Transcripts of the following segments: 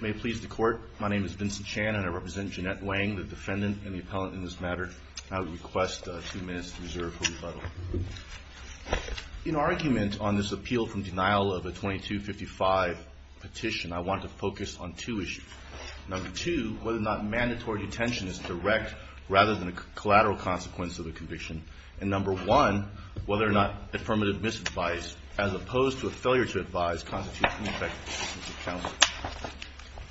May it please the Court, my name is Vincent Chan and I represent Jeannette Wang, the defendant and the appellant in this matter. I would request two minutes to reserve for rebuttal. In argument on this appeal from denial of a § 2255 petition, I want to focus on two is direct rather than a collateral consequence of the conviction, and number one, whether or not affirmative misadvice, as opposed to a failure to advise, constitutes an ineffective assistance of counsel.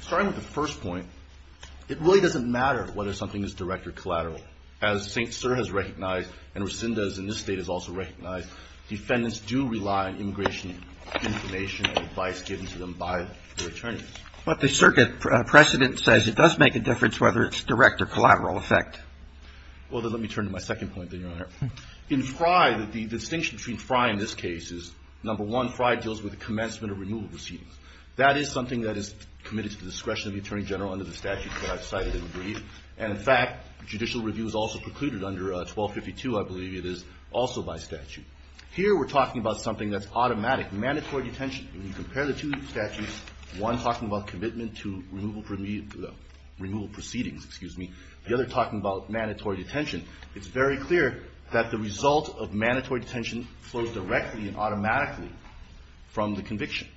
Starting with the first point, it really doesn't matter whether something is direct or collateral. As St. Cyr has recognized and Resendez in this State has also recognized, defendants do rely on immigration information and advice given to them by their attorneys. But the circuit precedent says it does make a difference whether it's direct or collateral effect. Well, then let me turn to my second point, then, Your Honor. In Frye, the distinction between Frye in this case is, number one, Frye deals with commencement of removal proceedings. That is something that is committed to the discretion of the Attorney General under the statute that I've cited in the brief, and in fact, judicial review is also precluded under 1252, I believe it is, also by statute. Here we're talking about something that's commitment to removal proceedings, excuse me. The other talking about mandatory detention. It's very clear that the result of mandatory detention flows directly and automatically from the conviction.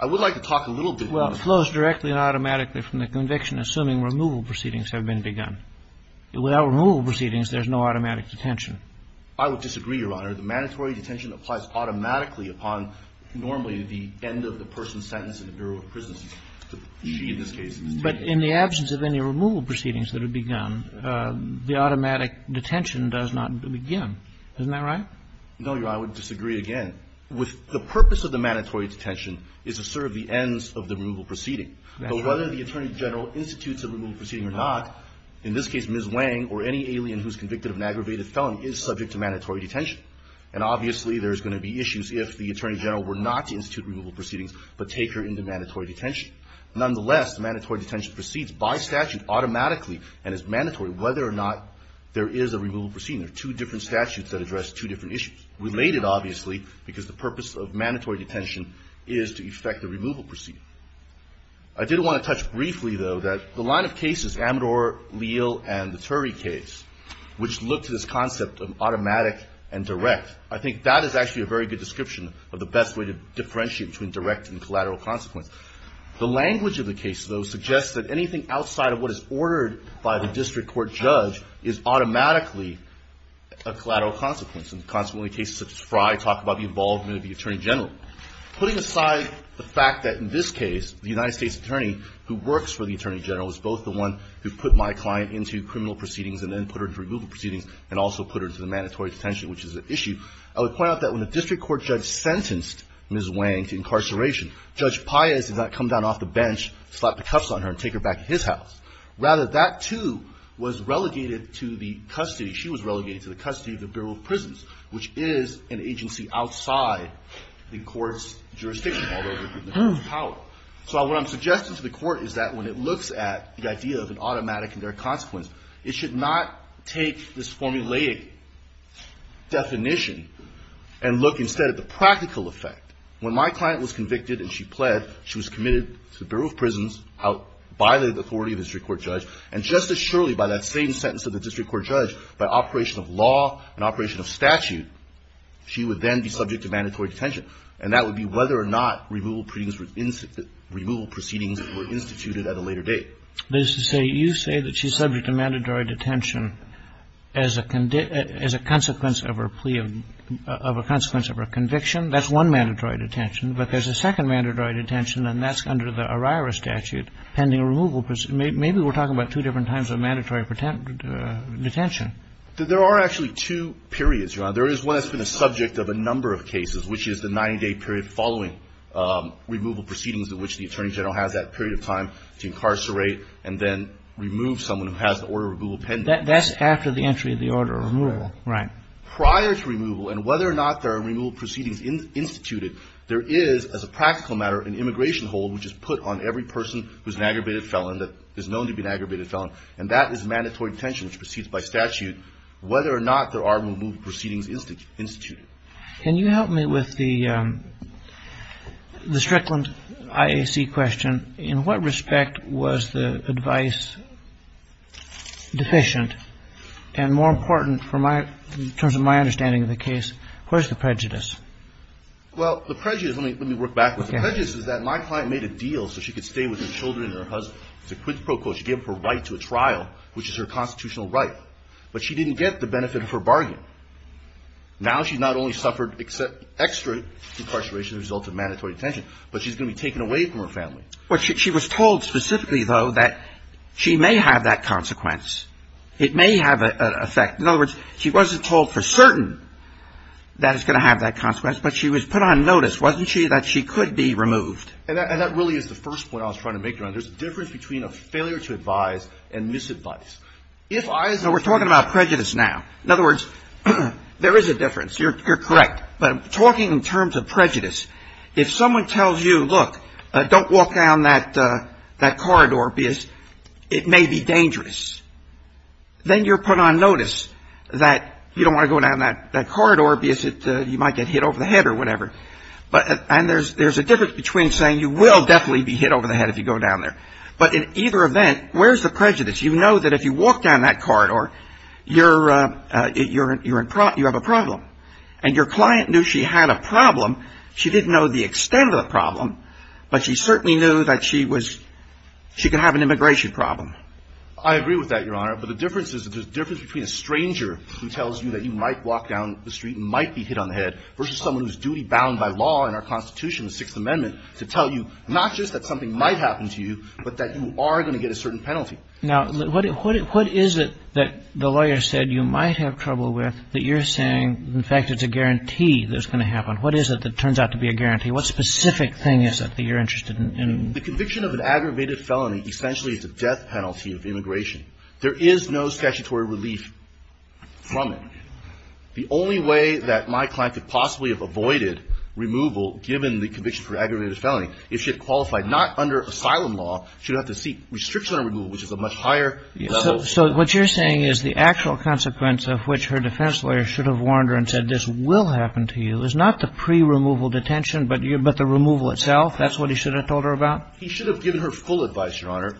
I would like to talk a little bit more. Well, it flows directly and automatically from the conviction, assuming removal proceedings have been begun. Without removal proceedings, there's no automatic detention. I would disagree, Your Honor. The mandatory detention applies automatically upon, normally, the end of the person's sentence in the Bureau of Prisons. She, in this case, is detained. But in the absence of any removal proceedings that have begun, the automatic detention does not begin. Isn't that right? No, Your Honor. I would disagree again. The purpose of the mandatory detention is to serve the ends of the removal proceeding. That's right. But whether the Attorney General institutes a removal proceeding or not, in this case, Ms. Wang or any alien who's convicted of an aggravated felony is subject to mandatory detention. And the reason I'm saying that is because the Attorney General were not to institute removal proceedings but take her into mandatory detention. Nonetheless, the mandatory detention proceeds by statute automatically and is mandatory whether or not there is a removal proceeding. There are two different statutes that address two different issues, related, obviously, because the purpose of mandatory detention is to effect a removal proceeding. I did want to touch briefly, though, that the line of cases, Amador, Leal, and the Turry case, which looked at this concept of automatic and direct, I think that is actually a very good description of the best way to differentiate between direct and collateral consequence. The language of the case, though, suggests that anything outside of what is ordered by the district court judge is automatically a collateral consequence. And consequently, cases such as Frye talk about the involvement of the Attorney General. Putting aside the fact that, in this case, the United States Attorney who works for the Attorney General is both the one who put my client into criminal proceedings and then put her into removal proceedings and also put her into the I would point out that when the district court judge sentenced Ms. Wang to incarceration, Judge Piaz did not come down off the bench, slap the cuffs on her, and take her back to his house. Rather, that, too, was relegated to the custody, she was relegated to the custody of the Bureau of Prisons, which is an agency outside the court's jurisdiction, although in the court's power. So what I'm suggesting to the court is that when it looks at the idea of an automatic and their consequence, it should not take this formulaic definition and look instead at the practical effect. When my client was convicted and she pled, she was committed to the Bureau of Prisons, violated the authority of the district court judge, and just as surely by that same sentence of the district court judge, by operation of law and operation of statute, she would then be subject to mandatory detention. And that would be whether or not removal proceedings were instituted at a later date. This is a, you say that she's subject to mandatory detention as a, as a consequence of her plea of, of a consequence of her conviction. That's one mandatory detention. But there's a second mandatory detention, and that's under the O'Reiher statute, pending removal, maybe we're talking about two different times of mandatory detention. There are actually two periods, Your Honor. There is one that's been a subject of a number of cases, which is the 90-day period following removal proceedings in which the Attorney General has that period of time to incarcerate and then remove someone who has the order of removal pending. That's after the entry of the order of removal, right? Prior to removal, and whether or not there are removal proceedings instituted, there is, as a practical matter, an immigration hold which is put on every person who's an aggravated felon that is known to be an aggravated felon. And that is mandatory detention, which proceeds by statute, whether or not there are removal proceedings instituted. Can you help me with the Strickland IAC question? In what respect was the advice deficient? And more important, from my, in terms of my understanding of the case, where's the prejudice? Well, the prejudice, let me, let me work back with you. The prejudice is that my client made a deal so she could stay with her children and her husband. It's a quid pro quo. She gave up her right to a trial, which is her constitutional right. But she didn't get the benefit of her bargain. Now she's not only suffered extra incarceration as a result of mandatory detention, but she's going to be taken away from her family. Well, she was told specifically, though, that she may have that consequence. It may have an effect. In other words, she wasn't told for certain that it's going to have that consequence, but she was put on notice, wasn't she, that she could be removed. And that really is the first point I was trying to make, Your Honor. There's a difference between a failure to advise and misadvice. If I was to say no, we're talking about prejudice now. In other words, there is a difference. You're correct. But talking in terms of prejudice, if someone tells you, look, don't walk down that corridor because it may be dangerous, then you're put on notice that you don't want to go down that corridor because you might get hit over the head or whatever. And there's a difference between saying you will definitely be hit over the head if you go down there. But in either event, where's the prejudice? You know that if you walk down that corridor, you have a problem. And your client knew she had a problem. She didn't know the extent of the problem. But she certainly knew that she could have an immigration problem. I agree with that, Your Honor. But the difference is that there's a difference between a stranger who tells you that you might walk down the street and might be hit on the head versus someone who's duty-bound by law in our Constitution, the Sixth Amendment, to tell you not just that something might happen to you, but that you are going to get a certain penalty. Now, what is it that the lawyer said you might have trouble with that you're saying in fact it's a guarantee that it's going to happen? What is it that turns out to be a guarantee? What specific thing is it that you're interested in? The conviction of an aggravated felony essentially is a death penalty of immigration. There is no statutory relief from it. The only way that my client could possibly have avoided removal, given the conviction for aggravated felony, if she had qualified, not under asylum law, she would have to seek restriction on removal, which is a much higher level. So what you're saying is the actual consequence of which her defense lawyer should have warned her and said this will happen to you is not the pre-removal detention, but the removal itself? That's what he should have told her about? He should have given her full advice, Your Honor.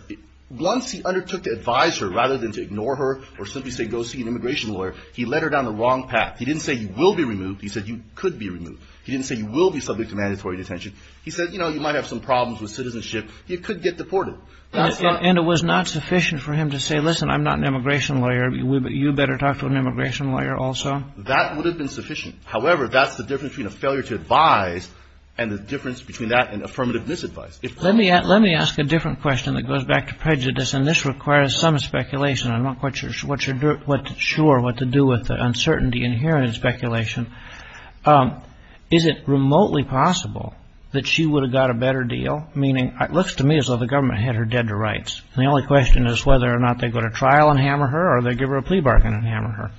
Once he undertook to advise her rather than to ignore her or simply say go see an immigration lawyer, he led her down the wrong path. He didn't say you will be removed. He said you could be removed. He didn't say you will be subject to mandatory detention. He said, you know, you might have some problems with citizenship. You could get deported. That's not the case. And it was not sufficient for him to say, listen, I'm not an immigration lawyer. You better talk to an immigration lawyer also. That would have been sufficient. However, that's the difference between a failure to advise and the difference between that and affirmative misadvice. Let me ask a different question that goes back to prejudice, and this requires some speculation. I'm not quite sure what to do with the uncertainty inherent in speculation. Is it remotely possible that she would have got a better deal? Meaning, it looks to me as though the government had her dead to rights. And the only question is whether or not they go to trial and hammer her or they give her a plea bargain and hammer her.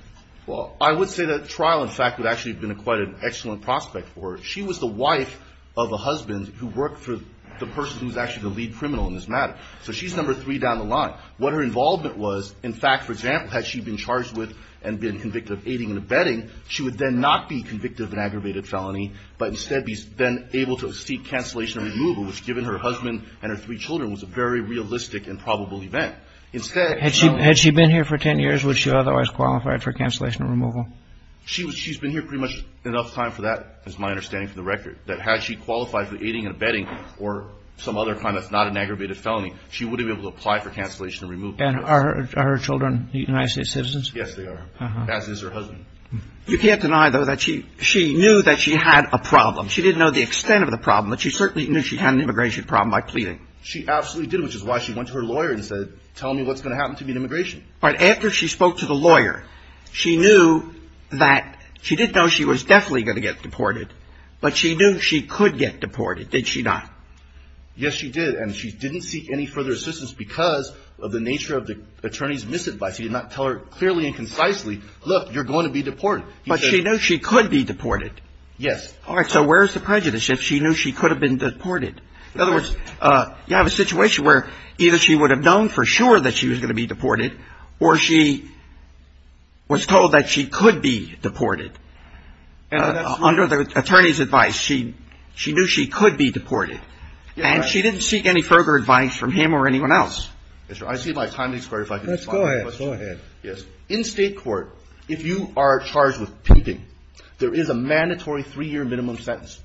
Well, I would say that trial, in fact, would actually have been quite an excellent prospect for her. She was the wife of a husband who worked for the person who was actually the lead criminal in this matter. So she's number three down the line. What her involvement was, in fact, for example, had she been charged with and been convicted of aiding and abetting, she would then not be convicted of an aggravated felony, but instead be then able to seek cancellation and removal, which, given her husband and her three children, was a very realistic and probable event. Instead, she's not going to be convicted of an aggravated felony. Had she been here for 10 years, would she have otherwise qualified for cancellation and removal? She's been here pretty much enough time for that, is my understanding from the record, that had she qualified for aiding and abetting or some other kind that's not an aggravated felony, she wouldn't be able to apply for cancellation and removal. And are her children United States citizens? Yes, they are, as is her husband. You can't deny, though, that she knew that she had a problem. She didn't know the extent of the problem, but she certainly knew she had an immigration problem by pleading. She absolutely did, which is why she went to her lawyer and said, tell me what's going to happen to me in immigration. All right. After she spoke to the lawyer, she knew that she didn't know she was definitely going to get deported, but she knew she could get deported, did she not? Yes, she did. And she didn't seek any further assistance because of the nature of the attorney's misadvice. He did not tell her clearly and concisely, look, you're going to be deported. But she knew she could be deported. Yes. All right. So where's the prejudice? If she knew she could have been deported. In other words, you have a situation where either she would have known for sure that she was going to be deported or she was told that she could be deported. Under the attorney's advice, she knew she could be deported. And she didn't seek any further advice from him or anyone else. I see my time is squared if I can respond. Go ahead. Go ahead. Yes. In state court, if you are charged with pimping, there is a mandatory three-year minimum sentence,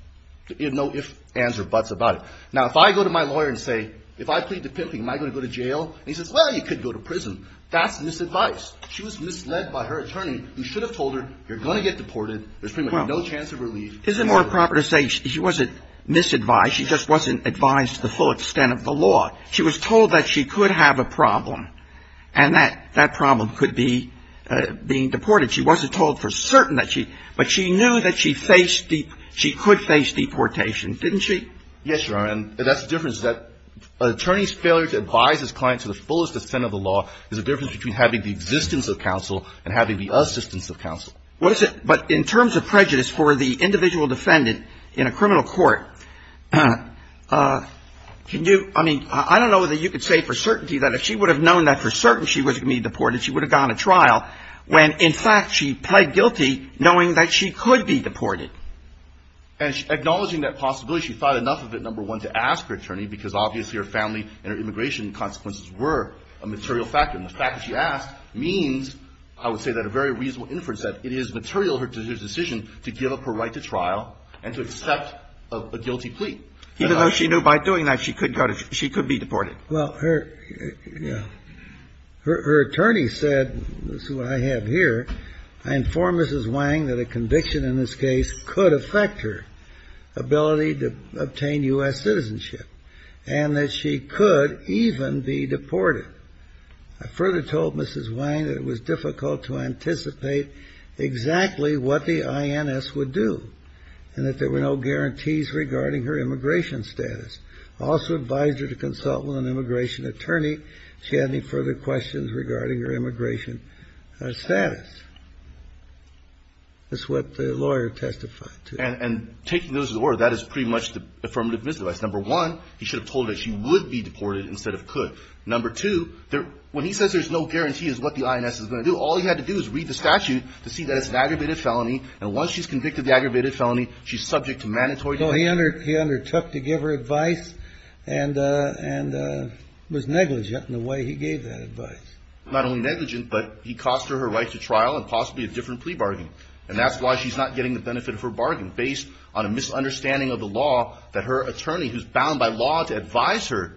no ifs, ands, or buts about it. Now, if I go to my lawyer and say, if I plead to pimping, am I going to go to jail? And he says, well, you could go to prison. That's misadvice. She was misled by her attorney, who should have told her, you're going to get deported. There's pretty much no chance of relief. Isn't it more proper to say she wasn't misadvised? She just wasn't advised to the full extent of the law. She was told that she could have a problem. And that problem could be being deported. She wasn't told for certain that she, but she knew that she could face deportation, didn't she? Yes, Your Honor, and that's the difference, is that an attorney's failure to advise his client to the fullest extent of the law is the difference between having the existence of counsel and having the assistance of counsel. What is it, but in terms of prejudice for the individual defendant in a criminal court, can you, I mean, I don't know that you could say for certainty that if she would have known that for certain she was going to be deported, she would have gone to trial when, in fact, she pled guilty knowing that she could be deported. And acknowledging that possibility, she thought enough of it, number one, to ask her attorney, because obviously her family and her immigration consequences were a material factor. And the fact that she asked means, I would say, that a very reasonable inference that it is material, her decision to give up her right to trial and to accept a guilty plea. Even though she knew by doing that she could go to, she could be deported. Well, her attorney said, this is what I have here, I inform Mrs. Wang that a conviction in this case could affect her ability to obtain U.S. citizenship, and that she could even be deported. I further told Mrs. Wang that it was difficult to anticipate exactly what the INS would do, and that there were no guarantees regarding her immigration status. I also advised her to consult with an immigration attorney if she had any further questions regarding her immigration status. That's what the lawyer testified to. And taking those as it were, that is pretty much the affirmative misdivice. Number one, he should have told her that she would be deported instead of could. Number two, when he says there's no guarantee as to what the INS is going to do, all he had to do is read the statute to see that it's an aggravated felony, and once she's convicted of the aggravated felony, she's subject to mandatory deportation. He undertook to give her advice and was negligent in the way he gave that advice. Not only negligent, but he cost her her right to trial and possibly a different plea bargain. And that's why she's not getting the benefit of her bargain, based on a misunderstanding of the law that her attorney, who's bound by law to advise her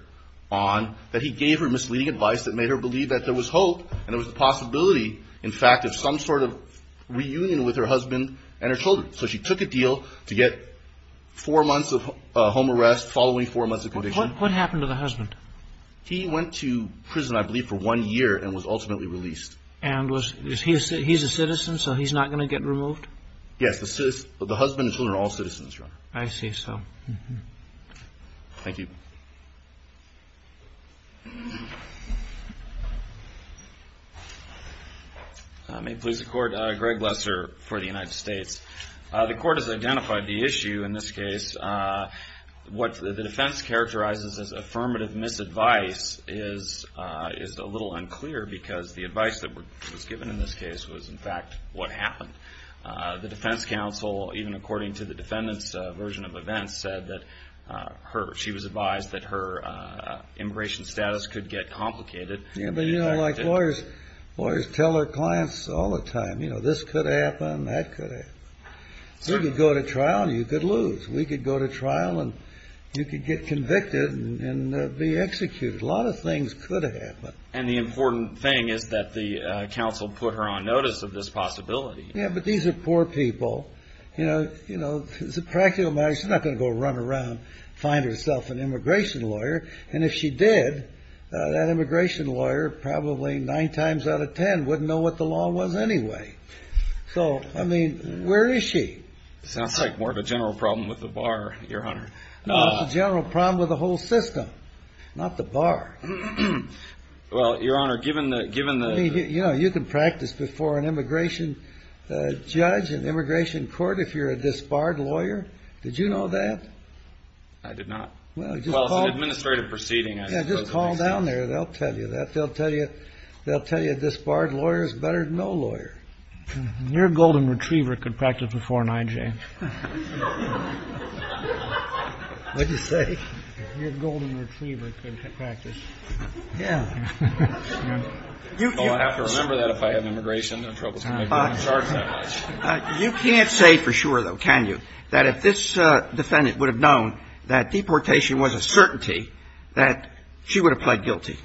on, that he gave her misleading advice that made her believe that there was hope and there was a possibility, in fact, of some sort of reunion with her husband and her children. So she took a deal to get four months of home arrest following four months of conviction. What happened to the husband? He went to prison, I believe, for one year and was ultimately released. And he's a citizen, so he's not going to get removed? Yes, the husband and children are all citizens, Your Honor. I see, so. Thank you. May it please the Court, Greg Lesser for the United States. The Court has identified the issue in this case. What the defense characterizes as affirmative misadvice is a little unclear, because the advice that was given in this case was, in fact, what happened. The defense counsel, even according to the defendant's version of events, said that she was advised that her immigration status could get complicated. Yeah, but you know, like lawyers tell their clients all the time, you know, this could happen, that could happen. We could go to trial and you could lose. We could go to trial and you could get convicted and be executed. A lot of things could happen. And the important thing is that the counsel put her on notice of this possibility. Yeah, but these are poor people. You know, as a practical matter, she's not going to go run around and find herself an immigration lawyer. And if she did, that immigration lawyer, probably nine times out of ten, wouldn't know what the law was anyway. So, I mean, where is she? Sounds like more of a general problem with the bar, Your Honor. No, it's a general problem with the whole system, not the bar. Well, Your Honor, given the... You know, you can practice before an immigration judge, an immigration court, if you're a disbarred lawyer. Did you know that? I did not. Well, it's an administrative proceeding, I suppose. Yeah, just call down there. They'll tell you that. They'll tell you a disbarred lawyer is better than no lawyer. Your Golden Retriever could practice before an IJ. What did you say? Your Golden Retriever could practice. Yeah. Well, I'd have to remember that if I had an immigration. I'd have trouble getting charged that much. You can't say for sure, though, can you, that if this defendant would have known that deportation was a certainty, that she would have pled guilty?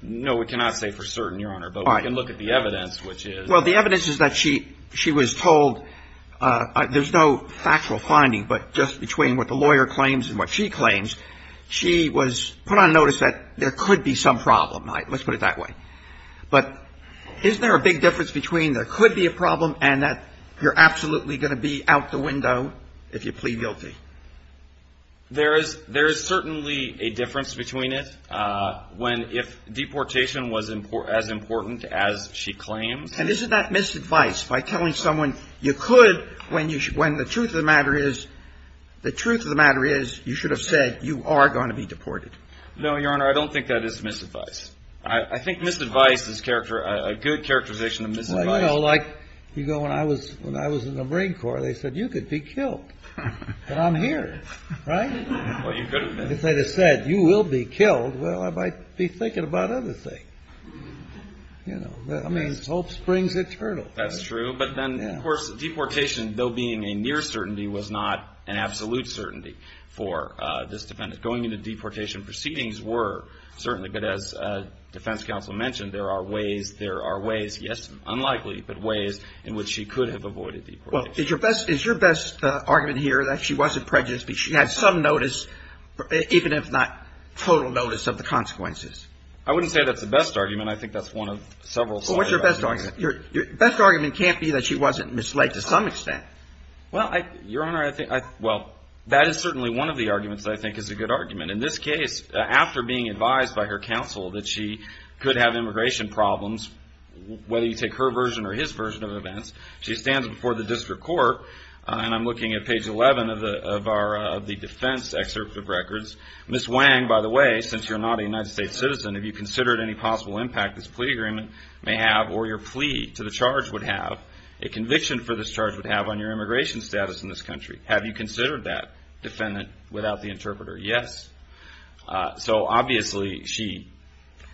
No, we cannot say for certain, Your Honor. But we can look at the evidence, which is... Well, the evidence is that she was told there's no factual finding, but just between what the lawyer claims and what she claims, she was put on notice that there could be some problem. Let's put it that way. But isn't there a big difference between there could be a problem and that you're absolutely going to be out the window if you plead guilty? There is certainly a difference between it when if deportation was as important as she claims. And isn't that misadvice by telling someone you could when the truth of the matter is you should have said you are going to be deported? No, Your Honor, I don't think that is misadvice. I think misadvice is a good characterization of misadvice. Well, you know, like you go, when I was in the Marine Corps, they said, you could be killed, but I'm here, right? Well, you could have been. If they'd have said, you will be killed, well, I might be thinking about other things, you know, I mean, hope springs eternal. That's true. But then, of course, deportation, though being a near certainty, was not an absolute certainty for this defendant. Going into deportation proceedings were certainly, but as defense counsel mentioned, there are ways, there are ways, yes, unlikely, but ways in which she could have avoided deportation. Well, is your best argument here that she wasn't prejudiced because she had some notice, even if not total notice of the consequences? I wouldn't say that's the best argument. I think that's one of several. So what's your best argument? Your best argument can't be that she wasn't misled to some extent. Well, Your Honor, I think, well, that is certainly one of the arguments that I think is a good argument. In this case, after being advised by her counsel that she could have immigration problems, whether you take her version or his version of events, she stands before the district court, and I'm looking at page 11 of the defense excerpt of records. Ms. Wang, by the way, since you're not a United States citizen, have you considered any possible impact this plea agreement may have or your plea to the charge would have? A conviction for this charge would have on your immigration status in this country. Have you considered that, defendant, without the interpreter? Yes. So, obviously, she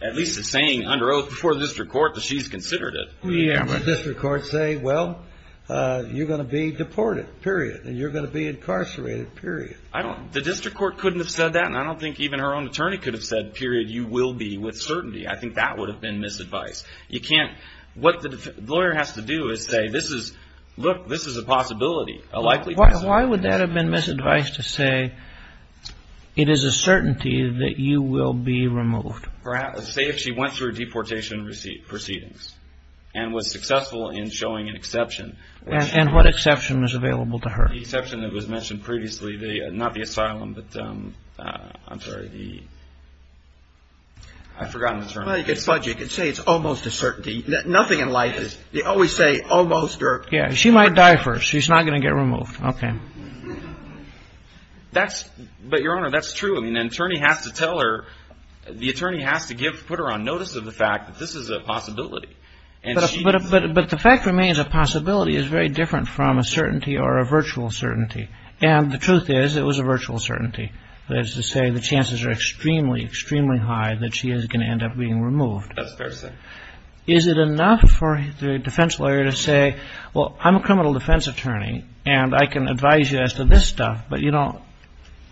at least is saying under oath before the district court that she's considered it. Yeah, but the district court say, well, you're going to be deported, period, and you're going to be incarcerated, period. I don't, the district court couldn't have said that, and I don't think even her own attorney could have said, period, you will be with certainty. I think that would have been misadvice. You can't, what the lawyer has to do is say, this is, look, this is a possibility, a likely possibility. Why would that have been misadvice to say, it is a certainty that you will be removed? Perhaps, say if she went through deportation proceedings and was successful in showing an exception. And what exception was available to her? The exception that was mentioned previously, not the asylum, but, I'm sorry, the, I've forgotten the term. Well, you could sludge it, you could say it's almost a certainty. Nothing in life is, they always say almost or. Yeah, she might die first, she's not going to get removed, okay. That's, but, Your Honor, that's true. I mean, an attorney has to tell her, the attorney has to give, put her on notice of the fact that this is a possibility. But the fact remains, a possibility is very different from a certainty or a virtual certainty. And the truth is, it was a virtual certainty. That is to say, the chances are extremely, extremely high that she is going to end up being removed. That's fair to say. Is it enough for the defense lawyer to say, well, I'm a criminal defense attorney, and I can advise you as to this stuff. But, you know,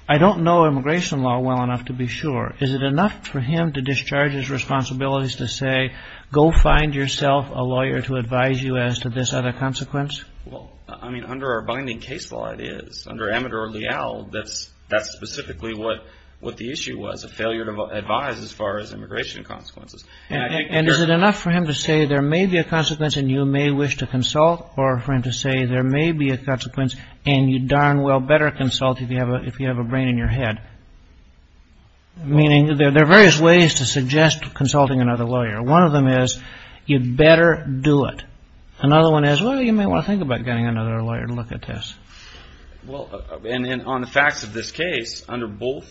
I don't know immigration law well enough to be sure. Is it enough for him to discharge his responsibilities to say, go find yourself a lawyer to advise you as to this other consequence? Well, I mean, under our binding case law, it is. Under amateur or leal, that's specifically what the issue was, a failure to advise as far as immigration consequences. And is it enough for him to say, there may be a consequence and you may wish to consult? Or for him to say, there may be a consequence and you darn well better consult if you have a brain in your head? Meaning, there are various ways to suggest consulting another lawyer. One of them is, you'd better do it. Another one is, well, you may want to think about getting another lawyer to look at this. Well, and on the facts of this case, under both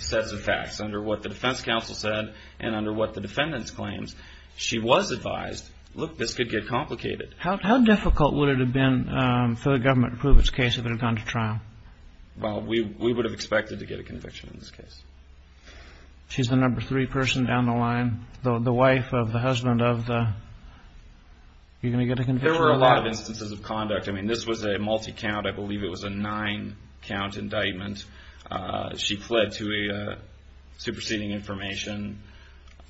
sets of facts, under what the defense counsel said and under what the defendant's claims, she was advised, look, this could get complicated. How difficult would it have been for the government to prove its case if it had gone to trial? Well, we would have expected to get a conviction in this case. She's the number three person down the line, the wife of the husband of the, you're going to get a conviction? There were a lot of instances of conduct. I mean, this was a multi-count, I believe it was a nine count indictment. She fled to a superseding information,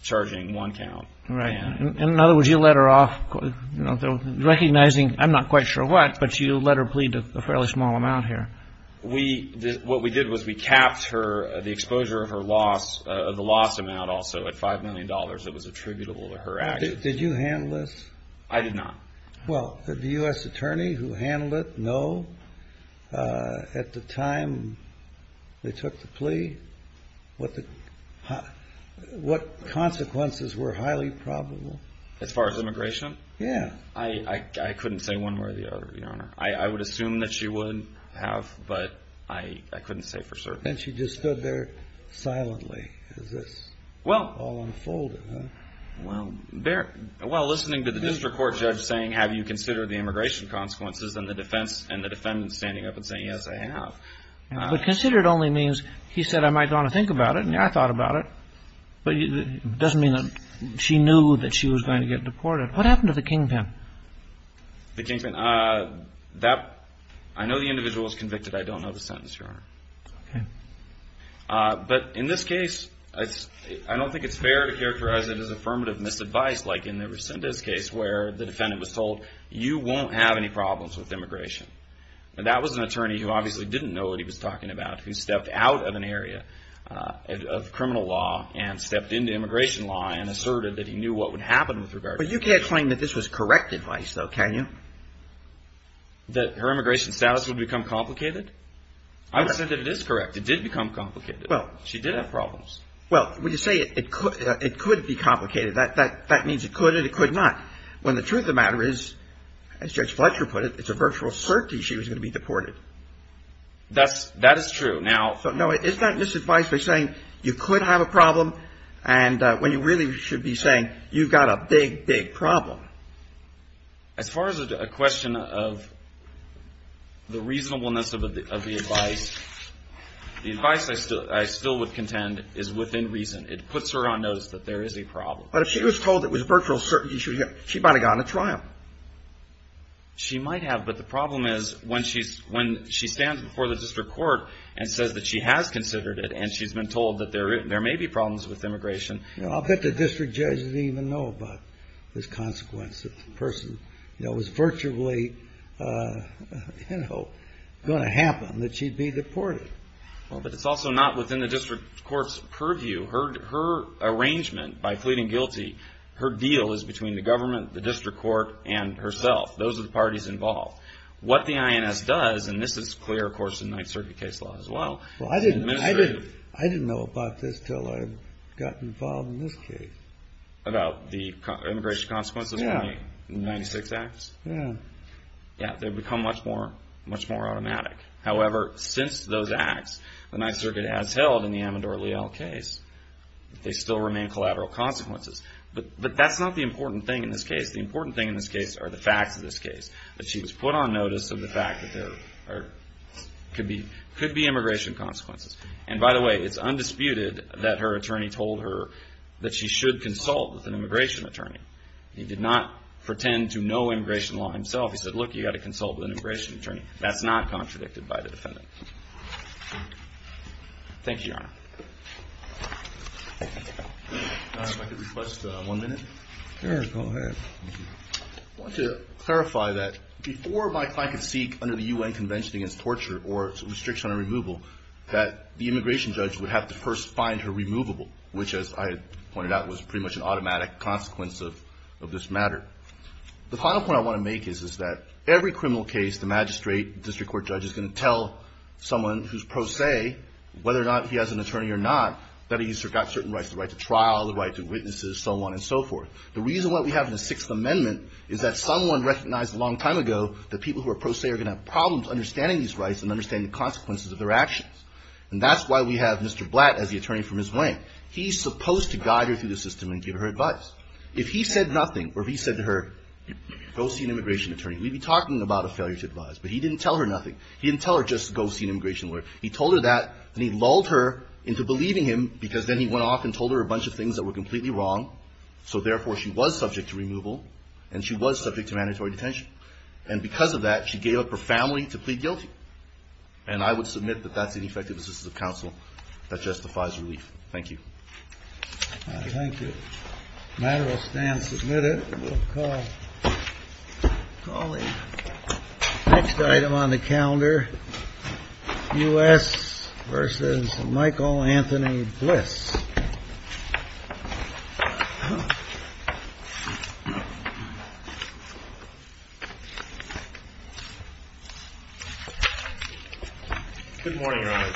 charging one count. Right. In other words, you let her off, you know, recognizing, I'm not quite sure what, but you let her plead a fairly small amount here. We, what we did was we capped her, the exposure of her loss, the loss amount also at $5 million that was attributable to her actions. Did you handle this? I did not. Well, did the U.S. attorney who handled it know at the time they took the plea what the, what consequences were highly probable? As far as immigration? Yeah. I couldn't say one way or the other, Your Honor. I would assume that she would have, but I couldn't say for certain. And she just stood there silently as this all unfolded, huh? Well, there, well, listening to the district court judge saying, have you considered the immigration consequences? And the defense and the defendant standing up and saying, yes, I have. But considered only means he said, I might want to think about it, and I thought about it. But it doesn't mean that she knew that she was going to get deported. What happened to the kingpin? The kingpin? That, I know the individual was convicted. I don't know the sentence, Your Honor. Okay. But in this case, I don't think it's fair to characterize it as affirmative misadvice, like in the Resendez case where the defendant was told, you won't have any problems with immigration. And that was an attorney who obviously didn't know what he was talking about, who stepped out of an area of criminal law and stepped into immigration law and asserted that he knew what would happen with regard to immigration. But you can't claim that this was correct advice, though, can you? That her immigration status would become complicated? I would say that it is correct. It did become complicated. Well, she did have problems. Well, when you say it could be complicated, that means it could and it could not. When the truth of the matter is, as Judge Fletcher put it, it's a virtual certainty she was going to be deported. That is true. So, no, it's not misadvice by saying you could have a problem and when you really should be saying you've got a big, big problem. As far as a question of the reasonableness of the advice, the advice I still would contend is within reason. It puts her on notice that there is a problem. But if she was told it was a virtual certainty, she might have gotten a trial. She might have, but the problem is when she stands before the district court and says that she has considered it and she's been told that there may be problems with immigration. I'll bet the district judge didn't even know about this consequence. The person, you know, it was virtually, you know, going to happen that she'd be deported. But it's also not within the district court's purview. Her arrangement by pleading guilty, her deal is between the government, the district court, and herself. Those are the parties involved. What the INS does, and this is clear, of course, in Ninth Circuit case law as well. Well, I didn't know about this until I got involved in this case. About the immigration consequences? Yeah. In the 96 acts? Yeah. Yeah, they've become much more automatic. However, since those acts, the Ninth Circuit has held in the Amador Leal case that they still remain collateral consequences. But that's not the important thing in this case. The important thing in this case are the facts of this case, that she was put on notice of the fact that there could be immigration consequences. And by the way, it's undisputed that her attorney told her that she should consult with an immigration attorney. He did not pretend to know immigration law himself. He said, look, you've got to consult with an immigration attorney. That's not contradicted by the defendant. Thank you, Your Honor. Your Honor, if I could request one minute? Sure, go ahead. I want to clarify that before my client could seek, under the UN Convention Against Torture or Restriction on Removal, that the immigration judge would have to first find her removable, which, as I pointed out, was pretty much an automatic consequence of this matter. The final point I want to make is that every criminal case, the magistrate, district court judge is going to tell someone who's pro se, whether or not he has an attorney or not, that he's got certain rights, the right to trial, the right to witnesses, so on and so forth. The reason why we have the Sixth Amendment is that someone recognized a long time ago that people who are pro se are going to have problems understanding these rights and understanding the consequences of their actions. And that's why we have Mr. Blatt as the attorney from his wing. He's supposed to guide her through the system and give her advice. If he said nothing, or if he said to her, go see an immigration attorney, we'd be talking about a failure to advise. But he didn't tell her nothing. He didn't tell her just go see an immigration lawyer. He told her that, and he lulled her into believing him because then he went off and told her a bunch of things that were completely wrong. So therefore, she was subject to removal, and she was subject to mandatory detention. And because of that, she gave up her family to plead guilty. And I would submit that that's an ineffective assistance of counsel that justifies relief. Thank you. Thank you. Matter will stand submitted. We'll call the next item on the calendar, U.S. versus Michael Anthony Bliss. Good morning, Your Honor.